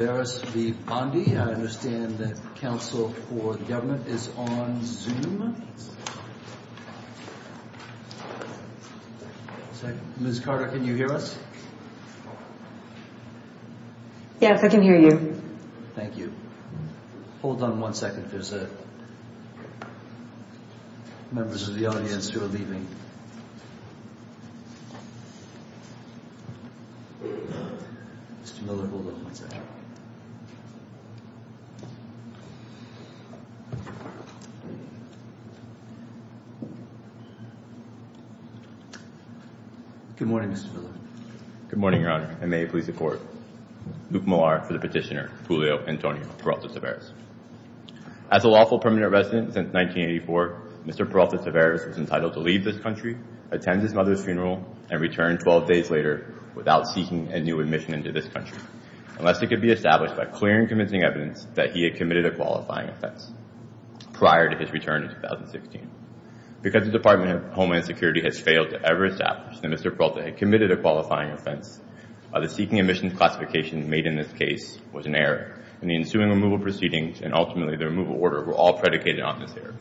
I understand that Council for the Government is on Zoom. Ms. Carter, can you hear us? Yes, I can hear you. Thank you. Hold on one second, there's members of the audience who are leaving. Mr. Miller, hold on one second. Good morning, Mr. Miller. Good morning, Your Honor, and may it please the Court. Luke Millar for the petitioner, Julio Antonio Peralta Taveras. As a lawful permanent resident since 1984, Mr. Peralta Taveras was entitled to leave this country, attend his mother's funeral, and return 12 days later without seeking a new admission into this country, unless it could be established by clear and convincing evidence that he had committed a qualifying offense prior to his return in 2016. Because the Department of Homeland Security has failed to ever establish that Mr. Peralta had committed a qualifying offense, the seeking admissions classification made in this case was an error, and the ensuing removal proceedings and ultimately the removal order were all predicated on this error.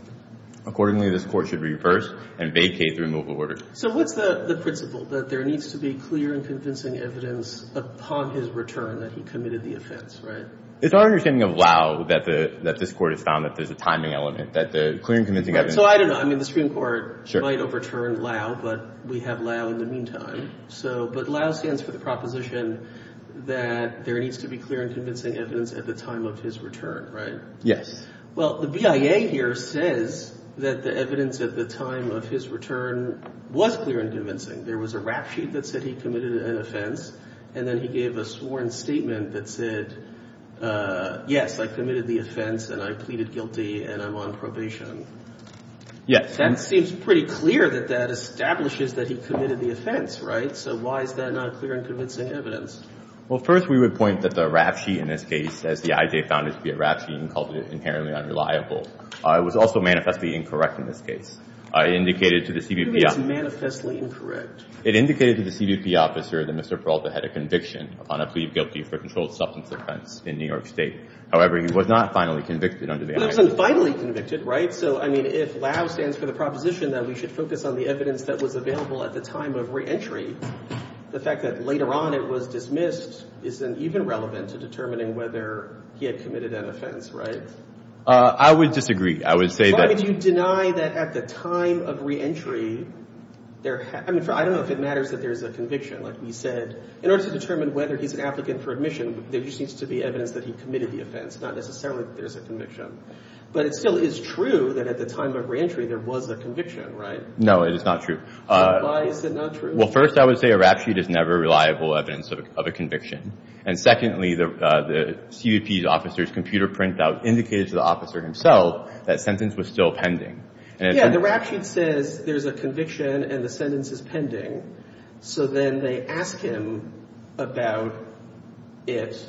Accordingly, this Court should reverse and vacate the removal order. So what's the principle, that there needs to be clear and convincing evidence upon his return that he committed the offense, right? It's our understanding of LAW that this Court has found that there's a timing element, that the clear and convincing evidence So I don't know, I mean, the Supreme Court might overturn LAW, but we have LAW in the meantime. So, but LAW stands for the proposition that there needs to be clear and convincing evidence at the time of his return, right? Yes. Well, the BIA here says that the evidence at the time of his return was clear and convincing. There was a rap sheet that said he committed an offense, and then he gave a sworn statement that said, yes, I committed the offense, and I pleaded guilty, and I'm on probation. Yes. That seems pretty clear that that establishes that he committed the offense, right? So why is that not clear and convincing evidence? Well, first, we would point that the rap sheet in this case, as the IJ found it to be a rap sheet and called it inherently unreliable, was also manifestly incorrect in this case. It indicated to the CBP officer. It's manifestly incorrect. It indicated to the CBP officer that Mr. Peralta had a conviction upon a plea of guilty for a controlled substance offense in New York State. However, he was not finally convicted under the IJ. He wasn't finally convicted, right? So, I mean, if LAU stands for the proposition that we should focus on the evidence that was available at the time of reentry, the fact that later on it was dismissed isn't even relevant to determining whether he had committed an offense, right? I would disagree. I would say that — Why would you deny that at the time of reentry there — I mean, I don't know if it matters that there's a conviction. Like we said, in order to determine whether he's an applicant for admission, there just needs to be evidence that he committed the offense, not necessarily that there's a conviction. But it still is true that at the time of reentry there was a conviction, right? No, it is not true. Why is it not true? Well, first, I would say a rap sheet is never reliable evidence of a conviction. And secondly, the CBP officer's computer printout indicated to the officer himself that sentence was still pending. Yeah, the rap sheet says there's a conviction and the sentence is pending. So then they ask him about it,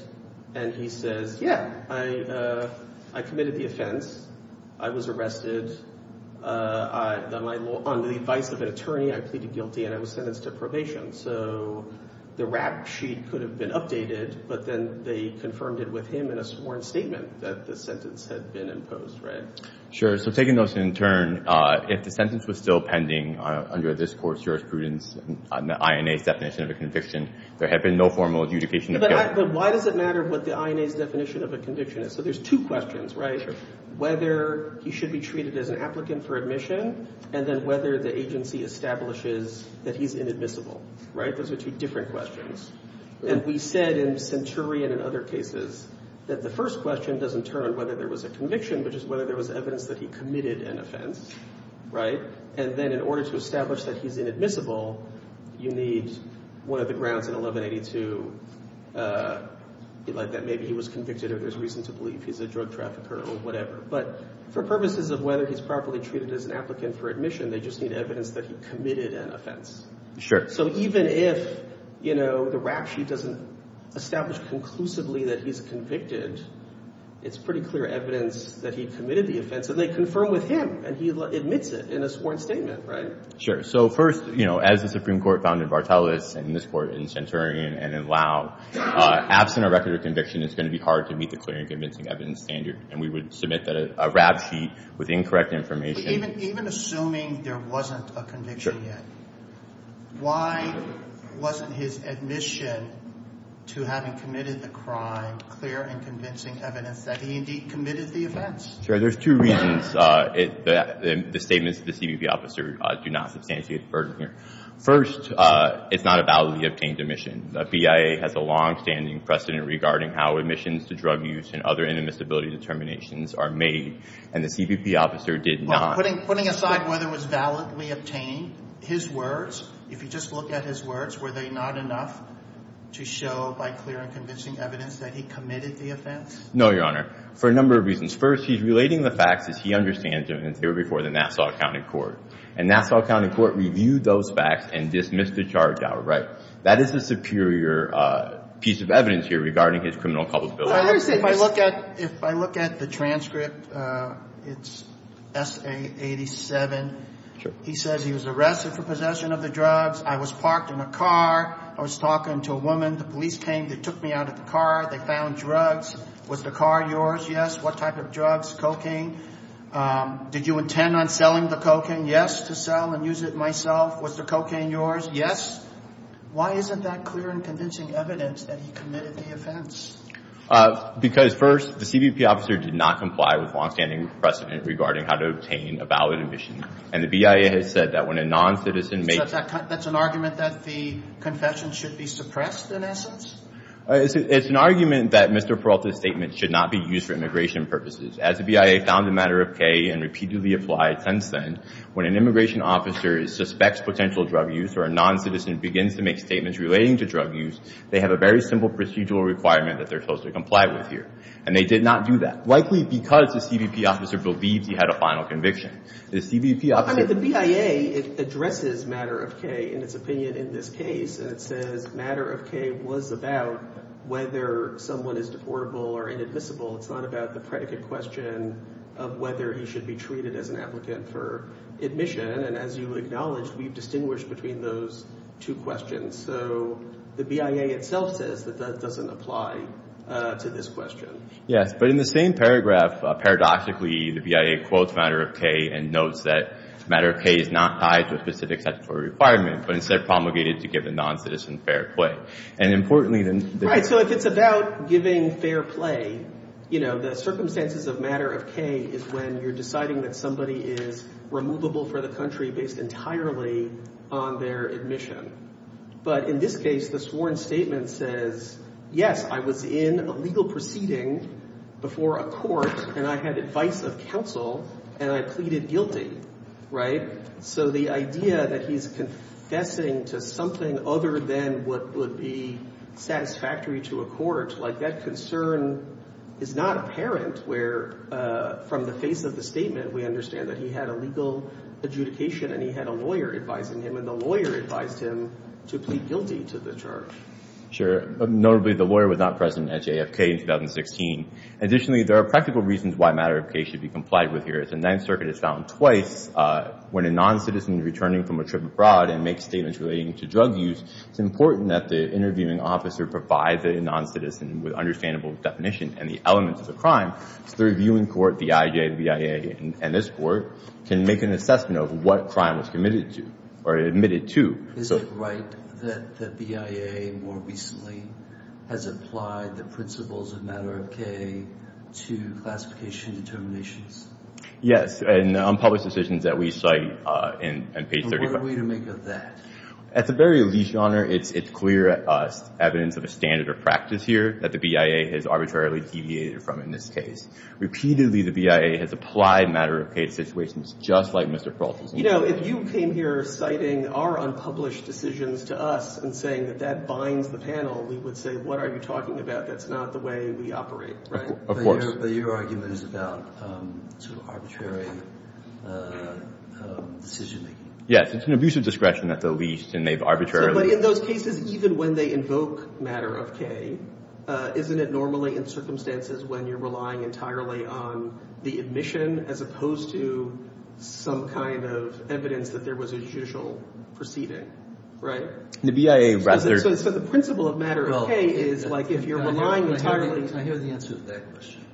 and he says, yeah, I committed the offense. I was arrested on the advice of an attorney. I pleaded guilty, and I was sentenced to probation. So the rap sheet could have been updated, but then they confirmed it with him in a sworn statement that the sentence had been imposed, right? Sure. So taking those in turn, if the sentence was still pending under this Court's jurisprudence and the INA's definition of a conviction, there had been no formal adjudication of guilt. But why does it matter what the INA's definition of a conviction is? So there's two questions, right? Sure. Whether he should be treated as an applicant for admission and then whether the agency establishes that he's inadmissible, right? Those are two different questions. And we said in Centurion and other cases that the first question doesn't turn on whether there was a conviction, but just whether there was evidence that he committed an offense, right? And then in order to establish that he's inadmissible, you need one of the grounds in 1182 that maybe he was convicted or there's reason to believe he's a drug trafficker or whatever. But for purposes of whether he's properly treated as an applicant for admission, they just need evidence that he committed an offense. Sure. So even if, you know, the rap sheet doesn't establish conclusively that he's convicted, it's pretty clear evidence that he committed the offense. And they confirm with him, and he admits it in a sworn statement, right? Sure. So first, you know, as the Supreme Court found in Vartelis and this Court in Centurion and in Lau, absent a record of conviction, it's going to be hard to meet the clear and convincing evidence standard. And we would submit a rap sheet with incorrect information. Even assuming there wasn't a conviction yet, why wasn't his admission to having committed the crime clear and convincing evidence that he indeed committed the offense? Sure. There's two reasons the statements of the CBP officer do not substantiate the burden here. First, it's not a validly obtained admission. The BIA has a longstanding precedent regarding how admissions to drug use and other inadmissibility determinations are made, and the CBP officer did not. Well, putting aside whether it was validly obtained, his words, if you just look at his words, were they not enough to show by clear and convincing evidence that he committed the offense? No, Your Honor. For a number of reasons. First, he's relating the facts as he understands them in theory before the Nassau County Court. And Nassau County Court reviewed those facts and dismissed the charge outright. That is a superior piece of evidence here regarding his criminal culpability. If I look at the transcript, it's S.A. 87. He says he was arrested for possession of the drugs. I was parked in a car. I was talking to a woman. The police came. They took me out of the car. They found drugs. Was the car yours? Yes. What type of drugs? Did you intend on selling the cocaine? Yes, to sell and use it myself. Was the cocaine yours? Yes. Why isn't that clear and convincing evidence that he committed the offense? Because, first, the CBP officer did not comply with long-standing precedent regarding how to obtain a valid admission. And the BIA has said that when a noncitizen makes... So that's an argument that the confession should be suppressed in essence? It's an argument that Mr. Peralta's statement should not be used for immigration purposes. As the BIA found the matter of Kaye and repeatedly applied since then, when an immigration officer suspects potential drug use or a noncitizen begins to make statements relating to drug use, they have a very simple procedural requirement that they're supposed to comply with here. And they did not do that, likely because the CBP officer believes he had a final conviction. The CBP officer... I mean, the BIA addresses matter of Kaye in its opinion in this case, and it says matter of Kaye was about whether someone is deportable or inadmissible. It's not about the predicate question of whether he should be treated as an applicant for admission. And as you acknowledged, we've distinguished between those two questions. So the BIA itself says that that doesn't apply to this question. Yes, but in the same paragraph, paradoxically, the BIA quotes matter of Kaye and notes that matter of Kaye is not tied to a specific statutory requirement, but instead promulgated to give a noncitizen fair play. And importantly... Right, so if it's about giving fair play, you know, the circumstances of matter of Kaye is when you're deciding that somebody is removable for the country based entirely on their admission. But in this case, the sworn statement says, yes, I was in a legal proceeding before a court, and I had advice of counsel, and I pleaded guilty. Right? So the idea that he's confessing to something other than what would be satisfactory to a court, like that concern is not apparent where, from the face of the statement, we understand that he had a legal adjudication and he had a lawyer advising him, and the lawyer advised him to plead guilty to the charge. Sure. Notably, the lawyer was not present at JFK in 2016. Additionally, there are practical reasons why matter of Kaye should be complied with here. As the Ninth Circuit has found twice, when a noncitizen is returning from a trip abroad and makes statements relating to drug use, it's important that the interviewing officer provide the noncitizen with understandable definition and the elements of the crime so the reviewing court, the IJ, the BIA, and this court, can make an assessment of what crime was committed to or admitted to. Is it right that the BIA more recently has applied the principles of matter of Kaye to classification determinations? Yes, and unpublished decisions that we cite on page 35. What are we to make of that? At the very least, Your Honor, it's clear evidence of a standard of practice here that the BIA has arbitrarily deviated from in this case. Repeatedly, the BIA has applied matter of Kaye to situations just like Mr. Carlson's. You know, if you came here citing our unpublished decisions to us and saying that that binds the panel, we would say, what are you talking about? That's not the way we operate, right? Of course. But your argument is about sort of arbitrary decision-making. Yes, it's an abuse of discretion at the least, and they've arbitrarily But in those cases, even when they invoke matter of Kaye, isn't it normally in circumstances when you're relying entirely on the admission as opposed to some kind of evidence that there was a judicial proceeding, right? The BIA rather So the principle of matter of Kaye is like if you're relying entirely I hear the answer to that question.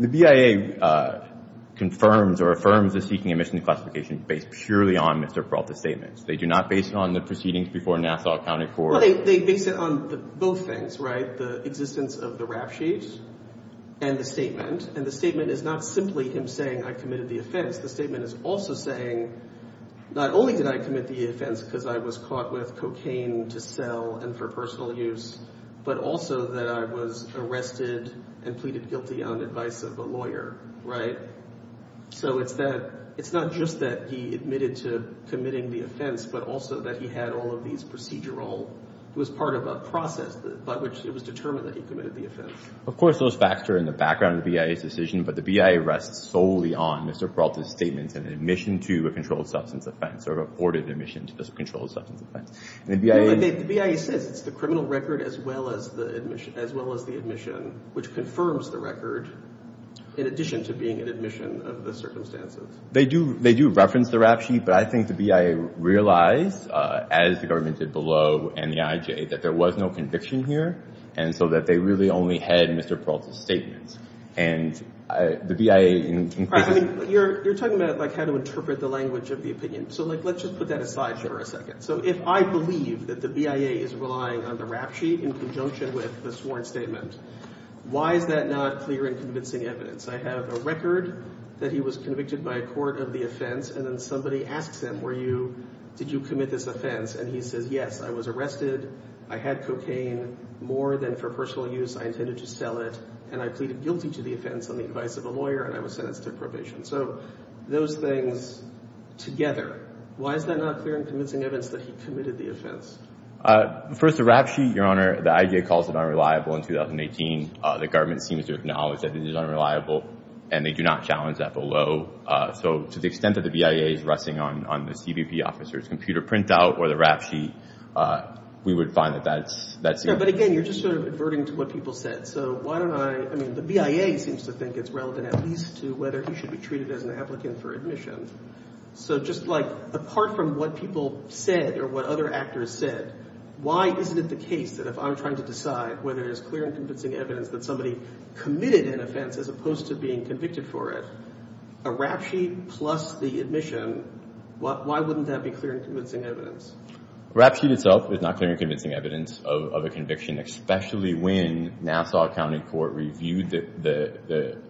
The BIA confirms or affirms the seeking admission to classification based purely on Mr. Peralta's statements. They do not base it on the proceedings before Nassau County Court Well, they base it on both things, right? The existence of the rap sheet and the statement, and the statement is not simply him saying I committed the offense. The statement is also saying not only did I commit the offense because I was caught with cocaine to sell and for personal use, but also that I was arrested and pleaded guilty on advice of a lawyer, right? So it's that it's not just that he admitted to committing the offense, but also that he had all of these procedural it was part of a process by which it was determined that he committed the offense. Of course, those facts are in the background of the BIA's decision, but the BIA rests solely on Mr. Peralta's statements and admission to a controlled substance offense or reported admission to a controlled substance offense. The BIA says it's the criminal record as well as the admission, which confirms the record in addition to being an admission of the circumstances. They do reference the rap sheet, but I think the BIA realized, as the government did below and the IJ, that there was no conviction here and so that they really only had Mr. Peralta's statements. And the BIA... You're talking about how to interpret the language of the opinion. So let's just put that aside for a second. So if I believe that the BIA is relying on the rap sheet in conjunction with the sworn statement, why is that not clear and convincing evidence? I have a record that he was convicted by a court of the offense and then somebody asks him, did you commit this offense? And he says, yes, I was arrested, I had cocaine, more than for personal use, I intended to sell it, and I pleaded guilty to the offense on the advice of a lawyer and I was sentenced to probation. So those things together, why is that not clear and convincing evidence that he committed the offense? First, the rap sheet, Your Honor, the IJ calls it unreliable in 2018. The government seems to acknowledge that it is unreliable and they do not challenge that below. So to the extent that the BIA is resting on the CBP officer's computer printout or the rap sheet, we would find that that's... Yeah, but again, you're just sort of adverting to what people said. So why don't I... I mean, the BIA seems to think it's relevant at least to whether he should be treated as an applicant for admission. So just like apart from what people said or what other actors said, why isn't it the case that if I'm trying to decide whether it is clear and convincing evidence that somebody committed an offense as opposed to being convicted for it, a rap sheet plus the admission, why wouldn't that be clear and convincing evidence? A rap sheet itself is not clear and convincing evidence of a conviction, especially when Nassau County Court reviewed the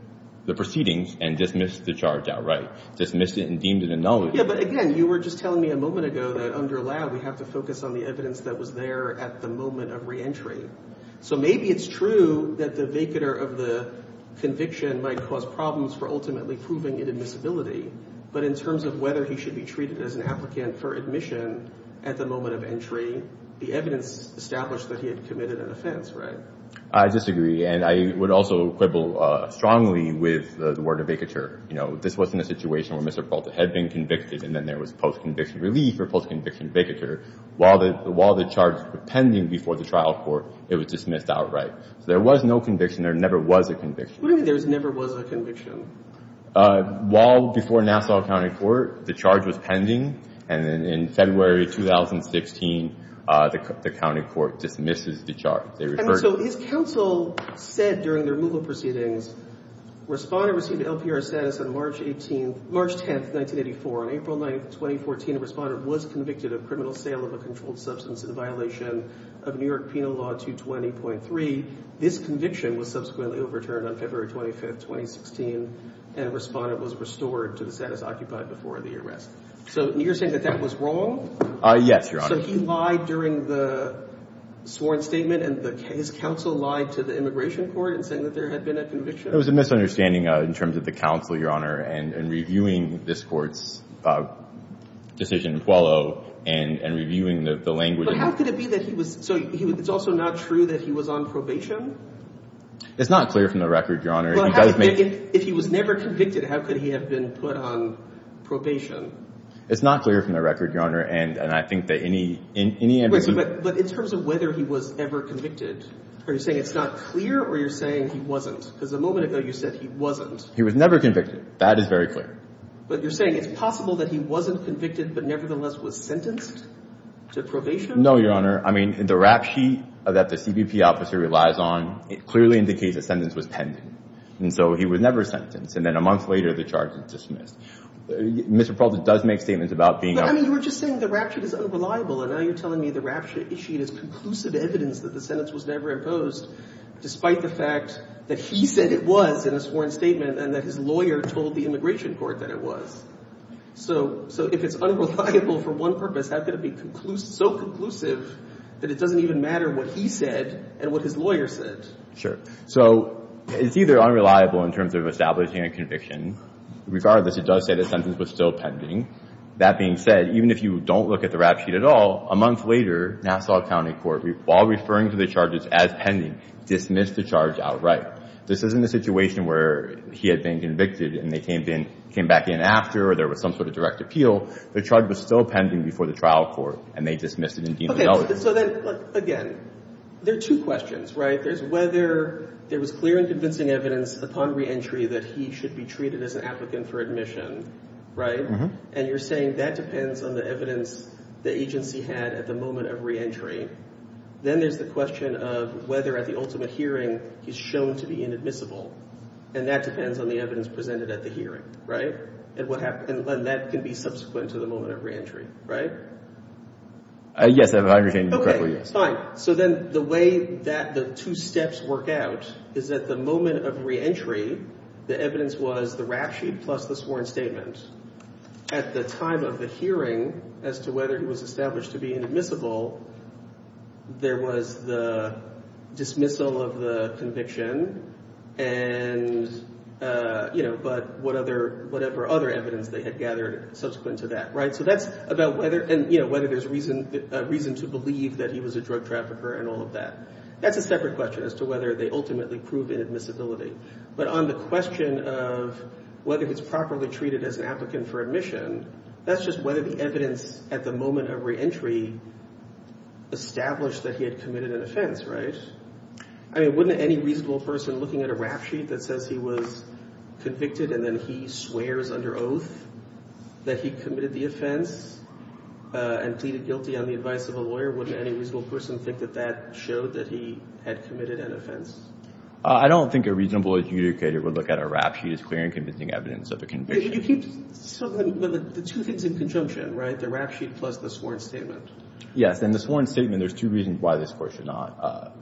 proceedings and dismissed the charge outright. Dismissed it and deemed it a nullity. Yeah, but again, you were just telling me a moment ago that under lab, we have to focus on the evidence that was there at the moment of reentry. So maybe it's true that the vacatur of the conviction might cause problems for ultimately proving it admissibility, but in terms of whether he should be treated as an applicant for admission at the moment of entry, the evidence established that he had committed an offense, right? I disagree, and I would also quibble strongly with the word vacatur. You know, this wasn't a situation where Mr. Polta had been convicted and then there was post-conviction relief or post-conviction vacatur. While the charge was pending before the trial court, it was dismissed outright. So there was no conviction. There never was a conviction. What do you mean there never was a conviction? Well, before Nassau County Court, the charge was pending, and then in February 2016, the county court dismisses the charge. And so his counsel said during the removal proceedings, Responder received LPR status on March 10, 1984. On April 9, 2014, Responder was convicted of criminal sale of a controlled substance in violation of New York Penal Law 220.3. This conviction was subsequently overturned on February 25, 2016, and Responder was restored to the status occupied before the arrest. So you're saying that that was wrong? Yes, Your Honor. So he lied during the sworn statement, and his counsel lied to the immigration court in saying that there had been a conviction? It was a misunderstanding in terms of the counsel, Your Honor, and reviewing this court's decision in Puello and reviewing the language. But how could it be that he was – so it's also not true that he was on probation? It's not clear from the record, Your Honor. If he was never convicted, how could he have been put on probation? It's not clear from the record, Your Honor, and I think that any – But in terms of whether he was ever convicted, are you saying it's not clear or you're saying he wasn't? Because a moment ago you said he wasn't. He was never convicted. That is very clear. But you're saying it's possible that he wasn't convicted, but nevertheless was sentenced to probation? No, Your Honor. I mean, the rap sheet that the CBP officer relies on, it clearly indicates the sentence was pending. And so he was never sentenced. And then a month later, the charge was dismissed. Mr. Peralta does make statements about being – But, I mean, you were just saying the rap sheet is unreliable, and now you're telling me the rap sheet is conclusive evidence that the sentence was never imposed, despite the fact that he said it was in a sworn statement and that his lawyer told the immigration court that it was. So if it's unreliable for one purpose, how could it be so conclusive that it doesn't even matter what he said and what his lawyer said? Sure. So it's either unreliable in terms of establishing a conviction. Regardless, it does say the sentence was still pending. That being said, even if you don't look at the rap sheet at all, a month later, Nassau County Court, while referring to the charges as pending, dismissed the charge outright. This isn't a situation where he had been convicted and they came back in after or there was some sort of direct appeal. The charge was still pending before the trial court, and they dismissed it and deemed it illegitimate. Okay, so then, again, there are two questions, right? There's whether there was clear and convincing evidence upon reentry that he should be treated as an applicant for admission, right? And you're saying that depends on the evidence the agency had at the moment of reentry. Then there's the question of whether at the ultimate hearing he's shown to be inadmissible, and that depends on the evidence presented at the hearing, right? And that can be subsequent to the moment of reentry, right? Yes, I understand you correctly. Okay, fine. So then the way that the two steps work out is that the moment of reentry, the evidence was the rap sheet plus the sworn statement. At the time of the hearing, as to whether he was established to be inadmissible, there was the dismissal of the conviction, but whatever other evidence they had gathered subsequent to that, right? So that's about whether there's reason to believe that he was a drug trafficker and all of that. That's a separate question as to whether they ultimately prove inadmissibility. But on the question of whether he's properly treated as an applicant for admission, that's just whether the evidence at the moment of reentry established that he had committed an offense, right? I mean, wouldn't any reasonable person looking at a rap sheet that says he was convicted and then he swears under oath that he committed the offense and pleaded guilty on the advice of a lawyer, wouldn't any reasonable person think that that showed that he had committed an offense? I don't think a reasonable adjudicator would look at a rap sheet as clear and convincing evidence of a conviction. You keep the two things in conjunction, right? The rap sheet plus the sworn statement. Yes, and the sworn statement, there's two reasons why this Court should not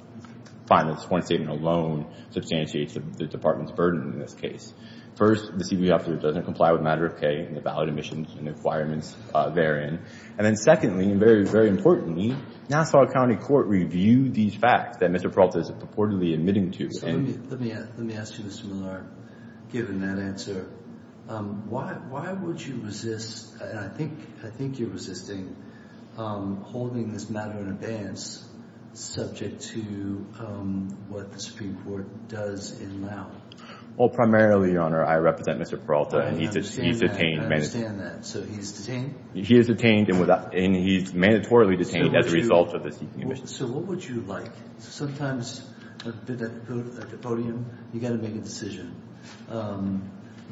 find that the sworn statement alone substantiates the Department's burden in this case. First, the CBO officer doesn't comply with Matter of K and the valid admissions and requirements therein. And then secondly, and very, very importantly, Nassau County Court reviewed these facts that Mr. Peralta is purportedly admitting to. Let me ask you, Mr. Miller, given that answer, why would you resist, and I think you're resisting, holding this matter in abeyance subject to what the Supreme Court does in law? Well, primarily, Your Honor, I represent Mr. Peralta and he's detained. I understand that. So he's detained? He is detained and he's mandatorily detained as a result of this seeking admission. So what would you like? Sometimes at the podium, you've got to make a decision.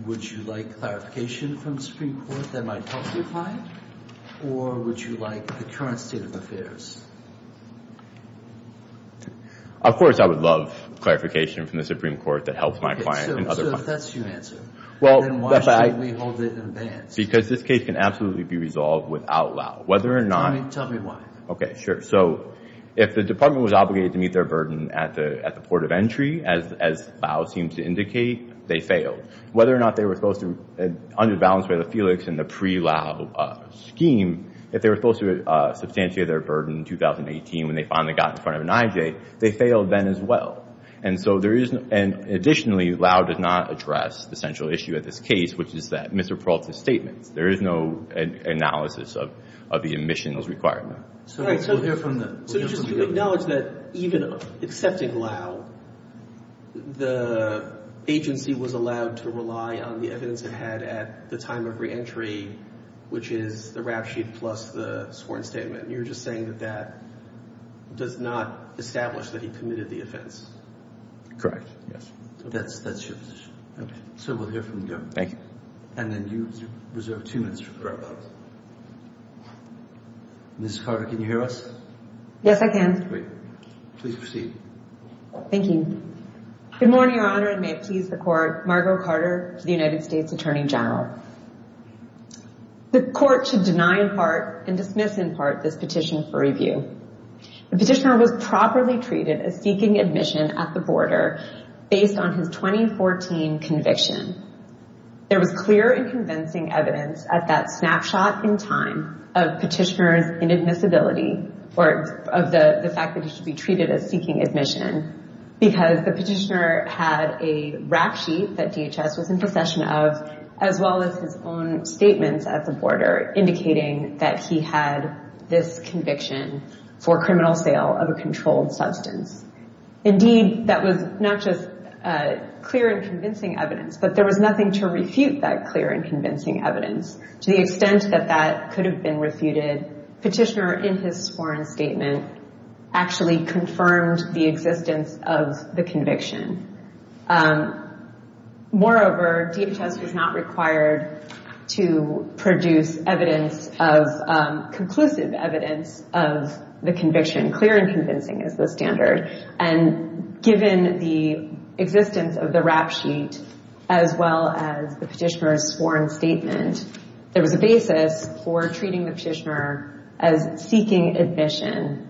Would you like clarification from the Supreme Court that might help your client or would you like the current state of affairs? Of course I would love clarification from the Supreme Court that helps my client and other clients. So if that's your answer, then why should we hold it in abeyance? Because this case can absolutely be resolved without allow. Tell me why. Okay, sure. So if the department was obligated to meet their burden at the port of entry, as Lau seems to indicate, they failed. Whether or not they were supposed to, under the balance of the Felix and the pre-Lau scheme, if they were supposed to substantiate their burden in 2018 when they finally got in front of an IJ, they failed then as well. And so there is, and additionally, Lau does not address the central issue at this case, which is that Mr. Peralta's statement. There is no analysis of the admissions requirement. All right, so we'll hear from the government. So just to acknowledge that even accepting Lau, the agency was allowed to rely on the evidence it had at the time of reentry, which is the rap sheet plus the sworn statement. You're just saying that that does not establish that he committed the offense. Correct, yes. That's your position. Okay. So we'll hear from the government. Thank you. And then you reserve two minutes for questions. Ms. Carter, can you hear us? Yes, I can. Great. Please proceed. Thank you. Good morning, Your Honor, and may it please the Court, Margo Carter, the United States Attorney General. The Court should deny in part and dismiss in part this petition for review. The petitioner was properly treated as seeking admission at the border based on his 2014 conviction. There was clear and convincing evidence at that snapshot in time of petitioner's inadmissibility of the fact that he should be treated as seeking admission because the petitioner had a rap sheet that DHS was in possession of as well as his own statements at the border indicating that he had this conviction for criminal sale of a controlled substance. Indeed, that was not just clear and convincing evidence, but there was nothing to refute that clear and convincing evidence. To the extent that that could have been refuted, petitioner, in his sworn statement, actually confirmed the existence of the conviction. Moreover, DHS was not required to produce conclusive evidence of the conviction. Clear and convincing is the standard. And given the existence of the rap sheet as well as the petitioner's sworn statement, there was a basis for treating the petitioner as seeking admission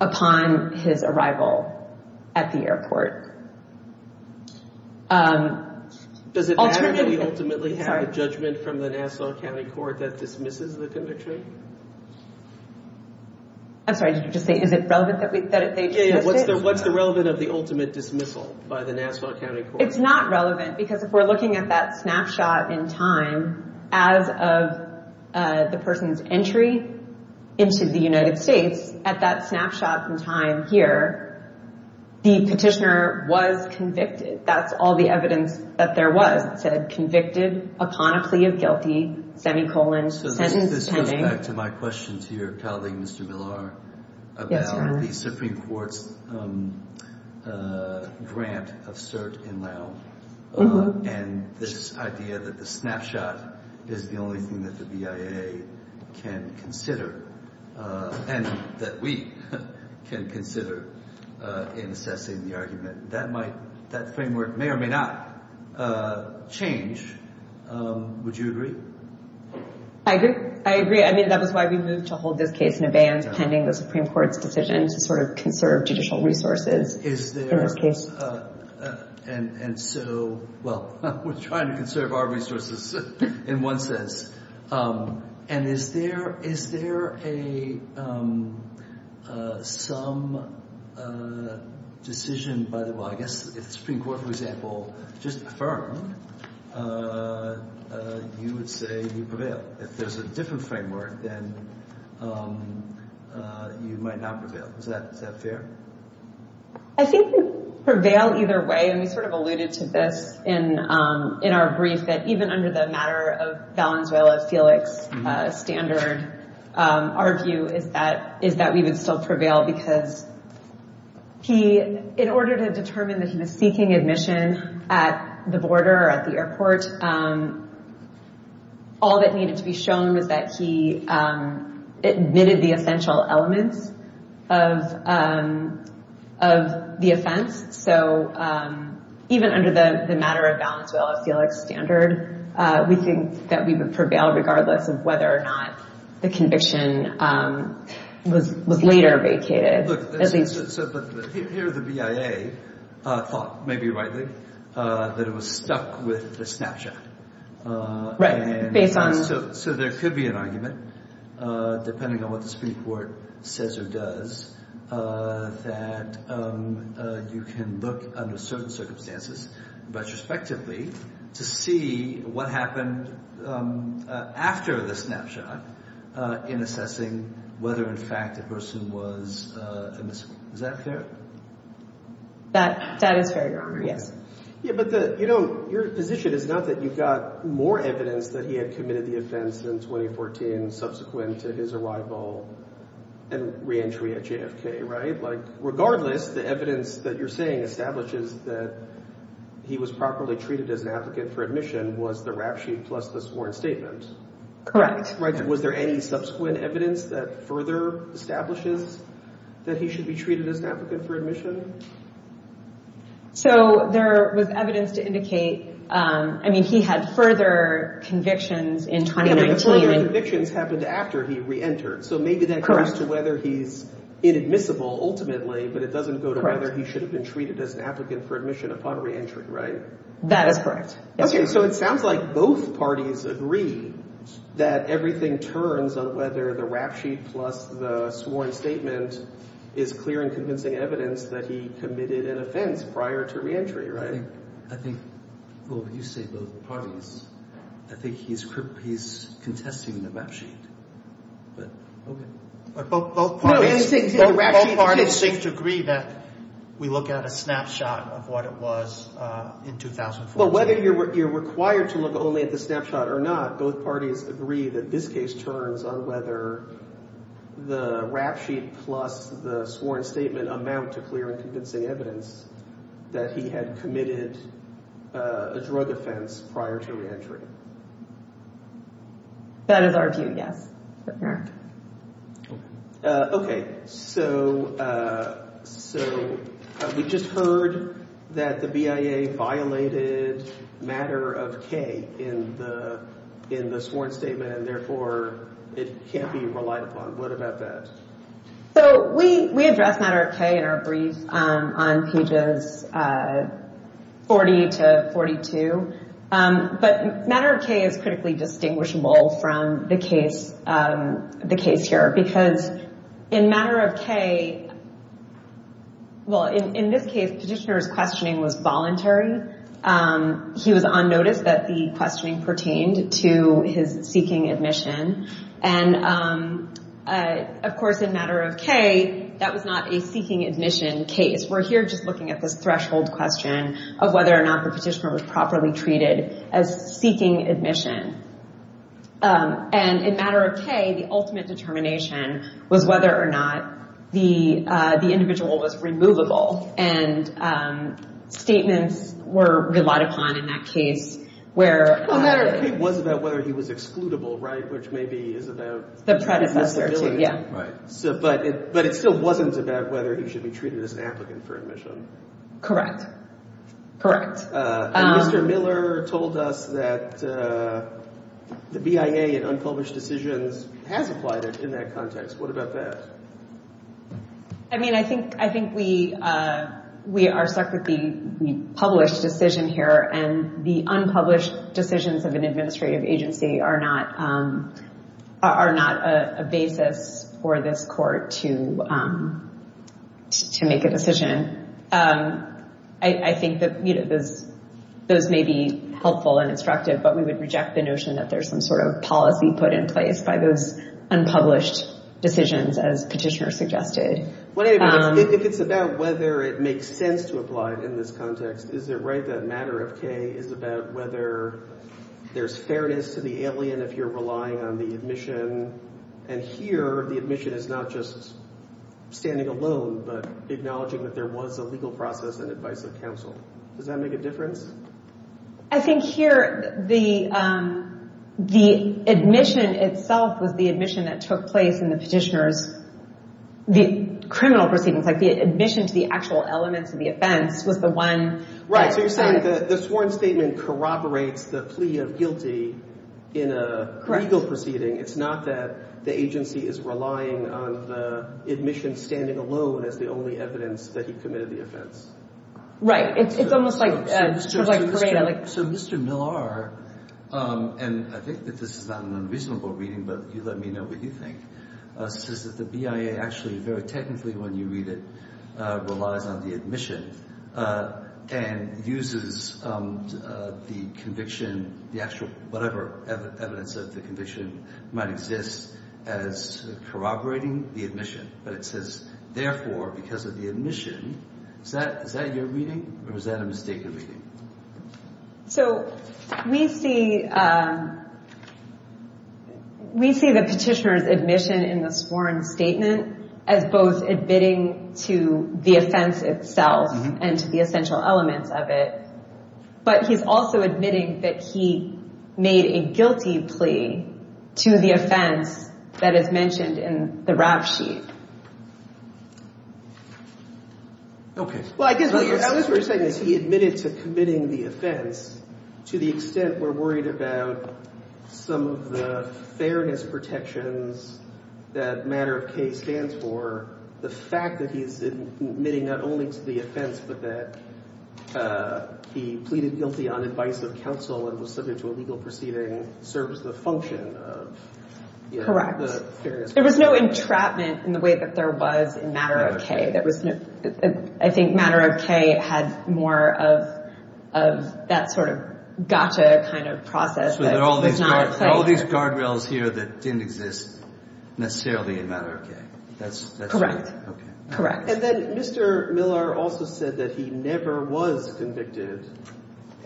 upon his arrival at the airport. Does it matter that we ultimately have a judgment from the Nassau County Court that dismisses the conviction? I'm sorry, did you just say, is it relevant that they dismiss it? What's the relevance of the ultimate dismissal by the Nassau County Court? It's not relevant, because if we're looking at that snapshot in time, as of the person's entry into the United States, at that snapshot in time here, the petitioner was convicted. That's all the evidence that there was that said, convicted upon a plea of guilty, semicolon, sentence pending. So this goes back to my question to your colleague, Mr. Villar, about the Supreme Court's grant of cert in Laos and this idea that the snapshot is the only thing that the BIA can consider and that we can consider in assessing the argument. That framework may or may not change. Would you agree? I agree. I mean, that was why we moved to hold this case in abeyance, pending the Supreme Court's decision to sort of conserve judicial resources in this case. And so, well, we're trying to conserve our resources in one sense. And is there some decision, by the way, I guess if the Supreme Court, for example, just affirmed, you would say you prevail. But if there's a different framework, then you might not prevail. Is that fair? I think you prevail either way. And we sort of alluded to this in our brief that even under the matter of Valenzuela-Felix standard, our view is that we would still prevail because he, in order to determine that he was seeking admission at the border or at the airport, all that needed to be shown was that he admitted the essential elements of the offense. So even under the matter of Valenzuela-Felix standard, we think that we would prevail regardless of whether or not the conviction was later vacated. But here the BIA thought, maybe rightly, that it was stuck with the snapshot. Right. So there could be an argument, depending on what the Supreme Court says or does, that you can look under certain circumstances retrospectively to see what happened after the snapshot in assessing whether, in fact, the person was admissible. Is that fair? That is fair, Your Honor, yes. But your position is not that you got more evidence that he had committed the offense in 2014 subsequent to his arrival and reentry at JFK, right? Regardless, the evidence that you're saying establishes that he was properly treated as an applicant for admission was the rap sheet plus the sworn statement. Correct. Was there any subsequent evidence that further establishes that he should be treated as an applicant for admission? So there was evidence to indicate, I mean, he had further convictions in 2019. The further convictions happened after he reentered, so maybe that goes to whether he's inadmissible ultimately, but it doesn't go to whether he should have been treated as an applicant for admission upon reentry, right? That is correct. Okay, so it sounds like both parties agree that everything turns on whether the rap sheet plus the sworn statement is clear and convincing evidence that he committed an offense prior to reentry, right? I think, well, you say both parties. I think he's contesting the rap sheet, but okay. Both parties seem to agree that we look at a snapshot of what it was in 2014. Well, whether you're required to look only at the snapshot or not, both parties agree that this case turns on whether the rap sheet plus the sworn statement amount to clear and convincing evidence that he had committed a drug offense prior to reentry. That is our view, yes. Okay, so we just heard that the BIA violated Matter of K in the sworn statement, and therefore it can't be relied upon. What about that? So we address Matter of K in our brief on pages 40 to 42, but Matter of K is critically distinguishable from the case here, because in Matter of K, well, in this case, petitioner's questioning was voluntary. He was on notice that the questioning pertained to his seeking admission, and, of course, in Matter of K, that was not a seeking admission case. We're here just looking at this threshold question of whether or not the petitioner was properly treated as seeking admission. And in Matter of K, the ultimate determination was whether or not the individual was removable, and statements were relied upon in that case where— Well, Matter of K was about whether he was excludable, right, which maybe is about— The predecessor to, yeah. But it still wasn't about whether he should be treated as an applicant for admission. Correct. Correct. And Mr. Miller told us that the BIA in unpublished decisions has applied it in that context. What about that? I mean, I think we are stuck with the published decision here, and the unpublished decisions of an administrative agency are not a basis for this court to make a decision. I think that those may be helpful and instructive, but we would reject the notion that there's some sort of policy put in place by those unpublished decisions, as petitioner suggested. If it's about whether it makes sense to apply it in this context, is it right that Matter of K is about whether there's fairness to the alien if you're relying on the admission? And here, the admission is not just standing alone, but acknowledging that there was a legal process and advice of counsel. Does that make a difference? I think here, the admission itself was the admission that took place in the petitioner's— the criminal proceedings, like the admission to the actual elements of the offense was the one— Right. So you're saying that the sworn statement corroborates the plea of guilty in a legal proceeding. Correct. It's not that the agency is relying on the admission standing alone as the only evidence that he committed the offense. Right. It's almost like— So Mr. Miller, and I think that this is not an unreasonable reading, but you let me know what you think, says that the BIA actually, very technically when you read it, relies on the admission and uses the conviction, the actual whatever evidence of the conviction might exist as corroborating the admission. But it says, therefore, because of the admission, is that your reading or is that a mistaken reading? So we see the petitioner's admission in the sworn statement as both admitting to the offense itself and to the essential elements of it, but he's also admitting that he made a guilty plea to the offense that is mentioned in the rap sheet. Okay. Well, I guess what you're saying is he admitted to committing the offense. To the extent we're worried about some of the fairness protections that matter of case stands for, the fact that he's admitting not only to the offense but that he pleaded guilty on advice of counsel and was subject to a legal proceeding serves the function of, you know, the fairness protections. Correct. There was no entrapment in the way that there was in matter of case. I think matter of case had more of that sort of gotcha kind of process. So there are all these guardrails here that didn't exist necessarily in matter of case. Correct. Okay. Correct. And then Mr. Miller also said that he never was convicted,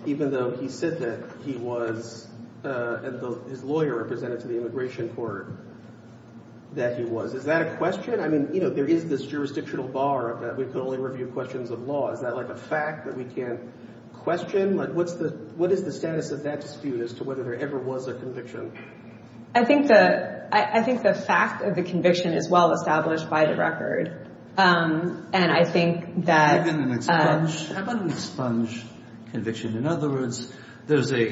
even though he said that he was, and his lawyer represented to the immigration court, that he was. Is that a question? I mean, you know, there is this jurisdictional bar that we can only review questions of law. Is that like a fact that we can't question? Like what is the status of that dispute as to whether there ever was a conviction? I think the fact of the conviction is well established by the record, and I think that... How about an expunged conviction? In other words, there's a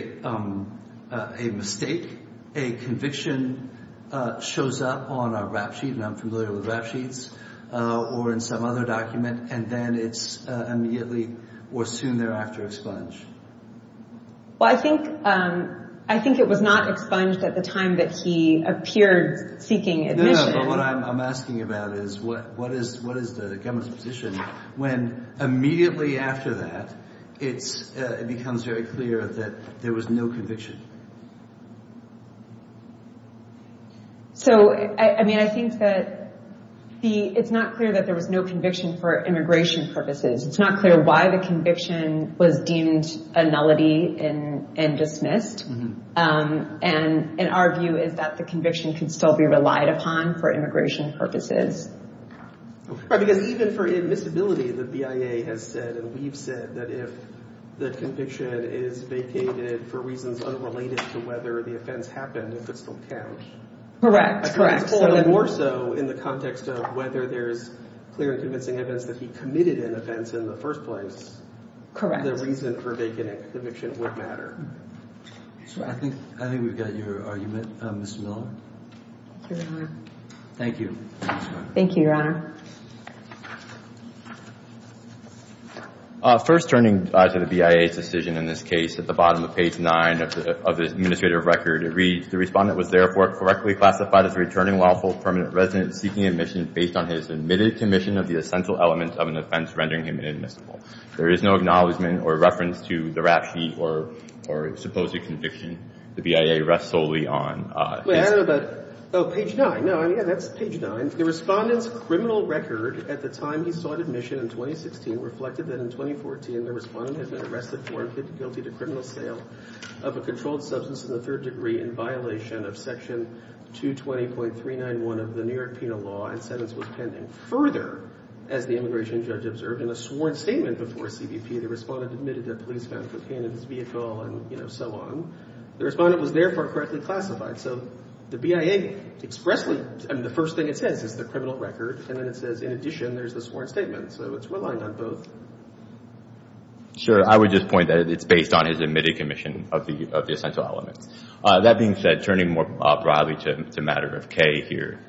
mistake. A conviction shows up on a rap sheet, and I'm familiar with rap sheets, or in some other document, and then it's immediately or soon thereafter expunged. Well, I think it was not expunged at the time that he appeared seeking admission. But what I'm asking about is what is the government's position when immediately after that, it becomes very clear that there was no conviction. So, I mean, I think that it's not clear that there was no conviction for immigration purposes. It's not clear why the conviction was deemed a nullity and dismissed. And our view is that the conviction can still be relied upon for immigration purposes. Right, because even for admissibility, the BIA has said, and we've said, that if the conviction is vacated for reasons unrelated to whether the offense happened, it could still count. Correct. More so in the context of whether there's clear and convincing evidence that he committed an offense in the first place. Correct. The reason for vacating the conviction would matter. I think we've got your argument, Mr. Miller. Thank you very much. Thank you, Your Honor. First, turning to the BIA's decision in this case, at the bottom of page 9 of the administrative record, it reads, the respondent was therefore correctly classified as a returning lawful permanent resident seeking admission based on his admitted commission of the essential element of an offense rendering him inadmissible. There is no acknowledgment or reference to the rap sheet or supposed conviction. The BIA rests solely on his – Wait, I don't know about – oh, page 9. Yeah, that's page 9. The respondent's criminal record at the time he sought admission in 2016 reflected that in 2014, the respondent had been arrested for and plead guilty to criminal sale of a controlled substance in the third degree in violation of section 220.391 of the New York Penal Law and sentence was pending. Further, as the immigration judge observed in a sworn statement before CBP, the respondent admitted that police found cocaine in his vehicle and so on. The respondent was therefore correctly classified. So the BIA expressly – I mean, the first thing it says is the criminal record, and then it says, in addition, there's the sworn statement. So it's reliant on both. Sure. I would just point that it's based on his admitted commission of the essential element. That being said, turning more broadly to matter of K here,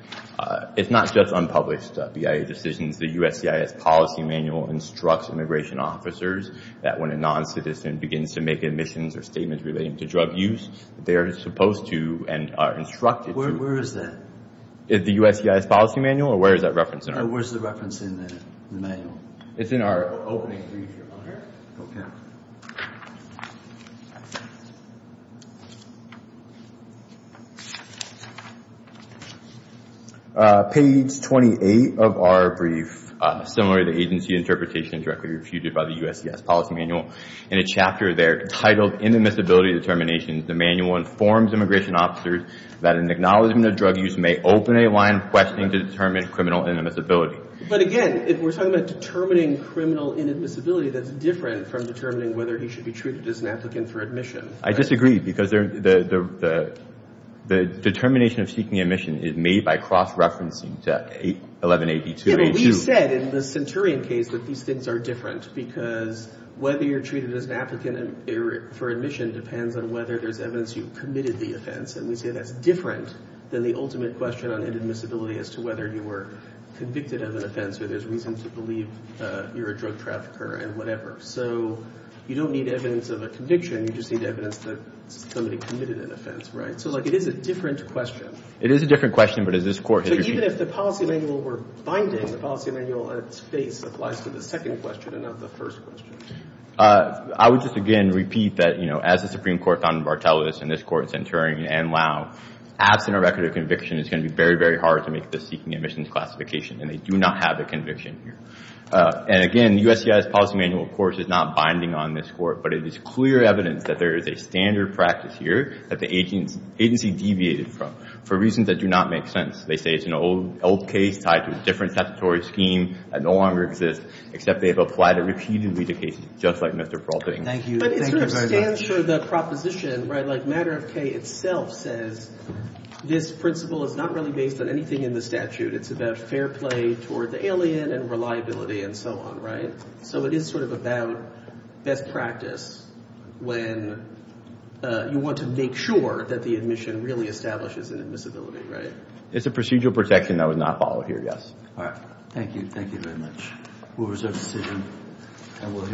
it's not just unpublished BIA decisions. The USCIS policy manual instructs immigration officers that when a noncitizen begins to make admissions or statements relating to drug use, they are supposed to and are instructed to – Where is that? Is the USCIS policy manual, or where is that referenced in our – Where's the reference in the manual? It's in our opening brief here on here. Okay. Page 28 of our brief, similar to the agency interpretation directly refuted by the USCIS policy manual, in a chapter there titled Inadmissibility Determinations, the manual informs immigration officers that an acknowledgment of drug use may open a line questioning the determined criminal inadmissibility. But again, if we're talking about determining criminal inadmissibility, that's different from determining whether he should be treated as an applicant for admission. I disagree, because the determination of seeking admission is made by cross-referencing to 1182. Yeah, but we said in the Centurion case that these things are different, because whether you're treated as an applicant for admission depends on whether there's evidence you committed the offense. And we say that's different than the ultimate question on inadmissibility as to whether you were convicted of an offense or there's reason to believe you're a drug trafficker and whatever. So you don't need evidence of a conviction. You just need evidence that somebody committed an offense, right? So, like, it is a different question. It is a different question, but as this Court has – But even if the policy manual were binding, the policy manual at its base applies to the second question and not the first question. I would just, again, repeat that, you know, as the Supreme Court found in Bartelos and this Court in Centurion and Lau, absent a record of conviction it's going to be very, very hard to make this seeking admission classification, and they do not have a conviction here. And again, USCI's policy manual, of course, is not binding on this Court, but it is clear evidence that there is a standard practice here that the agency deviated from for reasons that do not make sense. They say it's an old case tied to a different statutory scheme that no longer exists, except they've applied it repeatedly to cases just like Mr. Peralta's. Thank you. Thank you very much. But it sort of stands for the proposition, right? Like, Matter of K itself says this principle is not really based on anything in the statute. It's about fair play toward the alien and reliability and so on, right? So it is sort of about best practice when you want to make sure that the admission really establishes an admissibility, right? It's a procedural protection that was not followed here, yes. All right. Thank you. Thank you very much. We'll reserve the decision.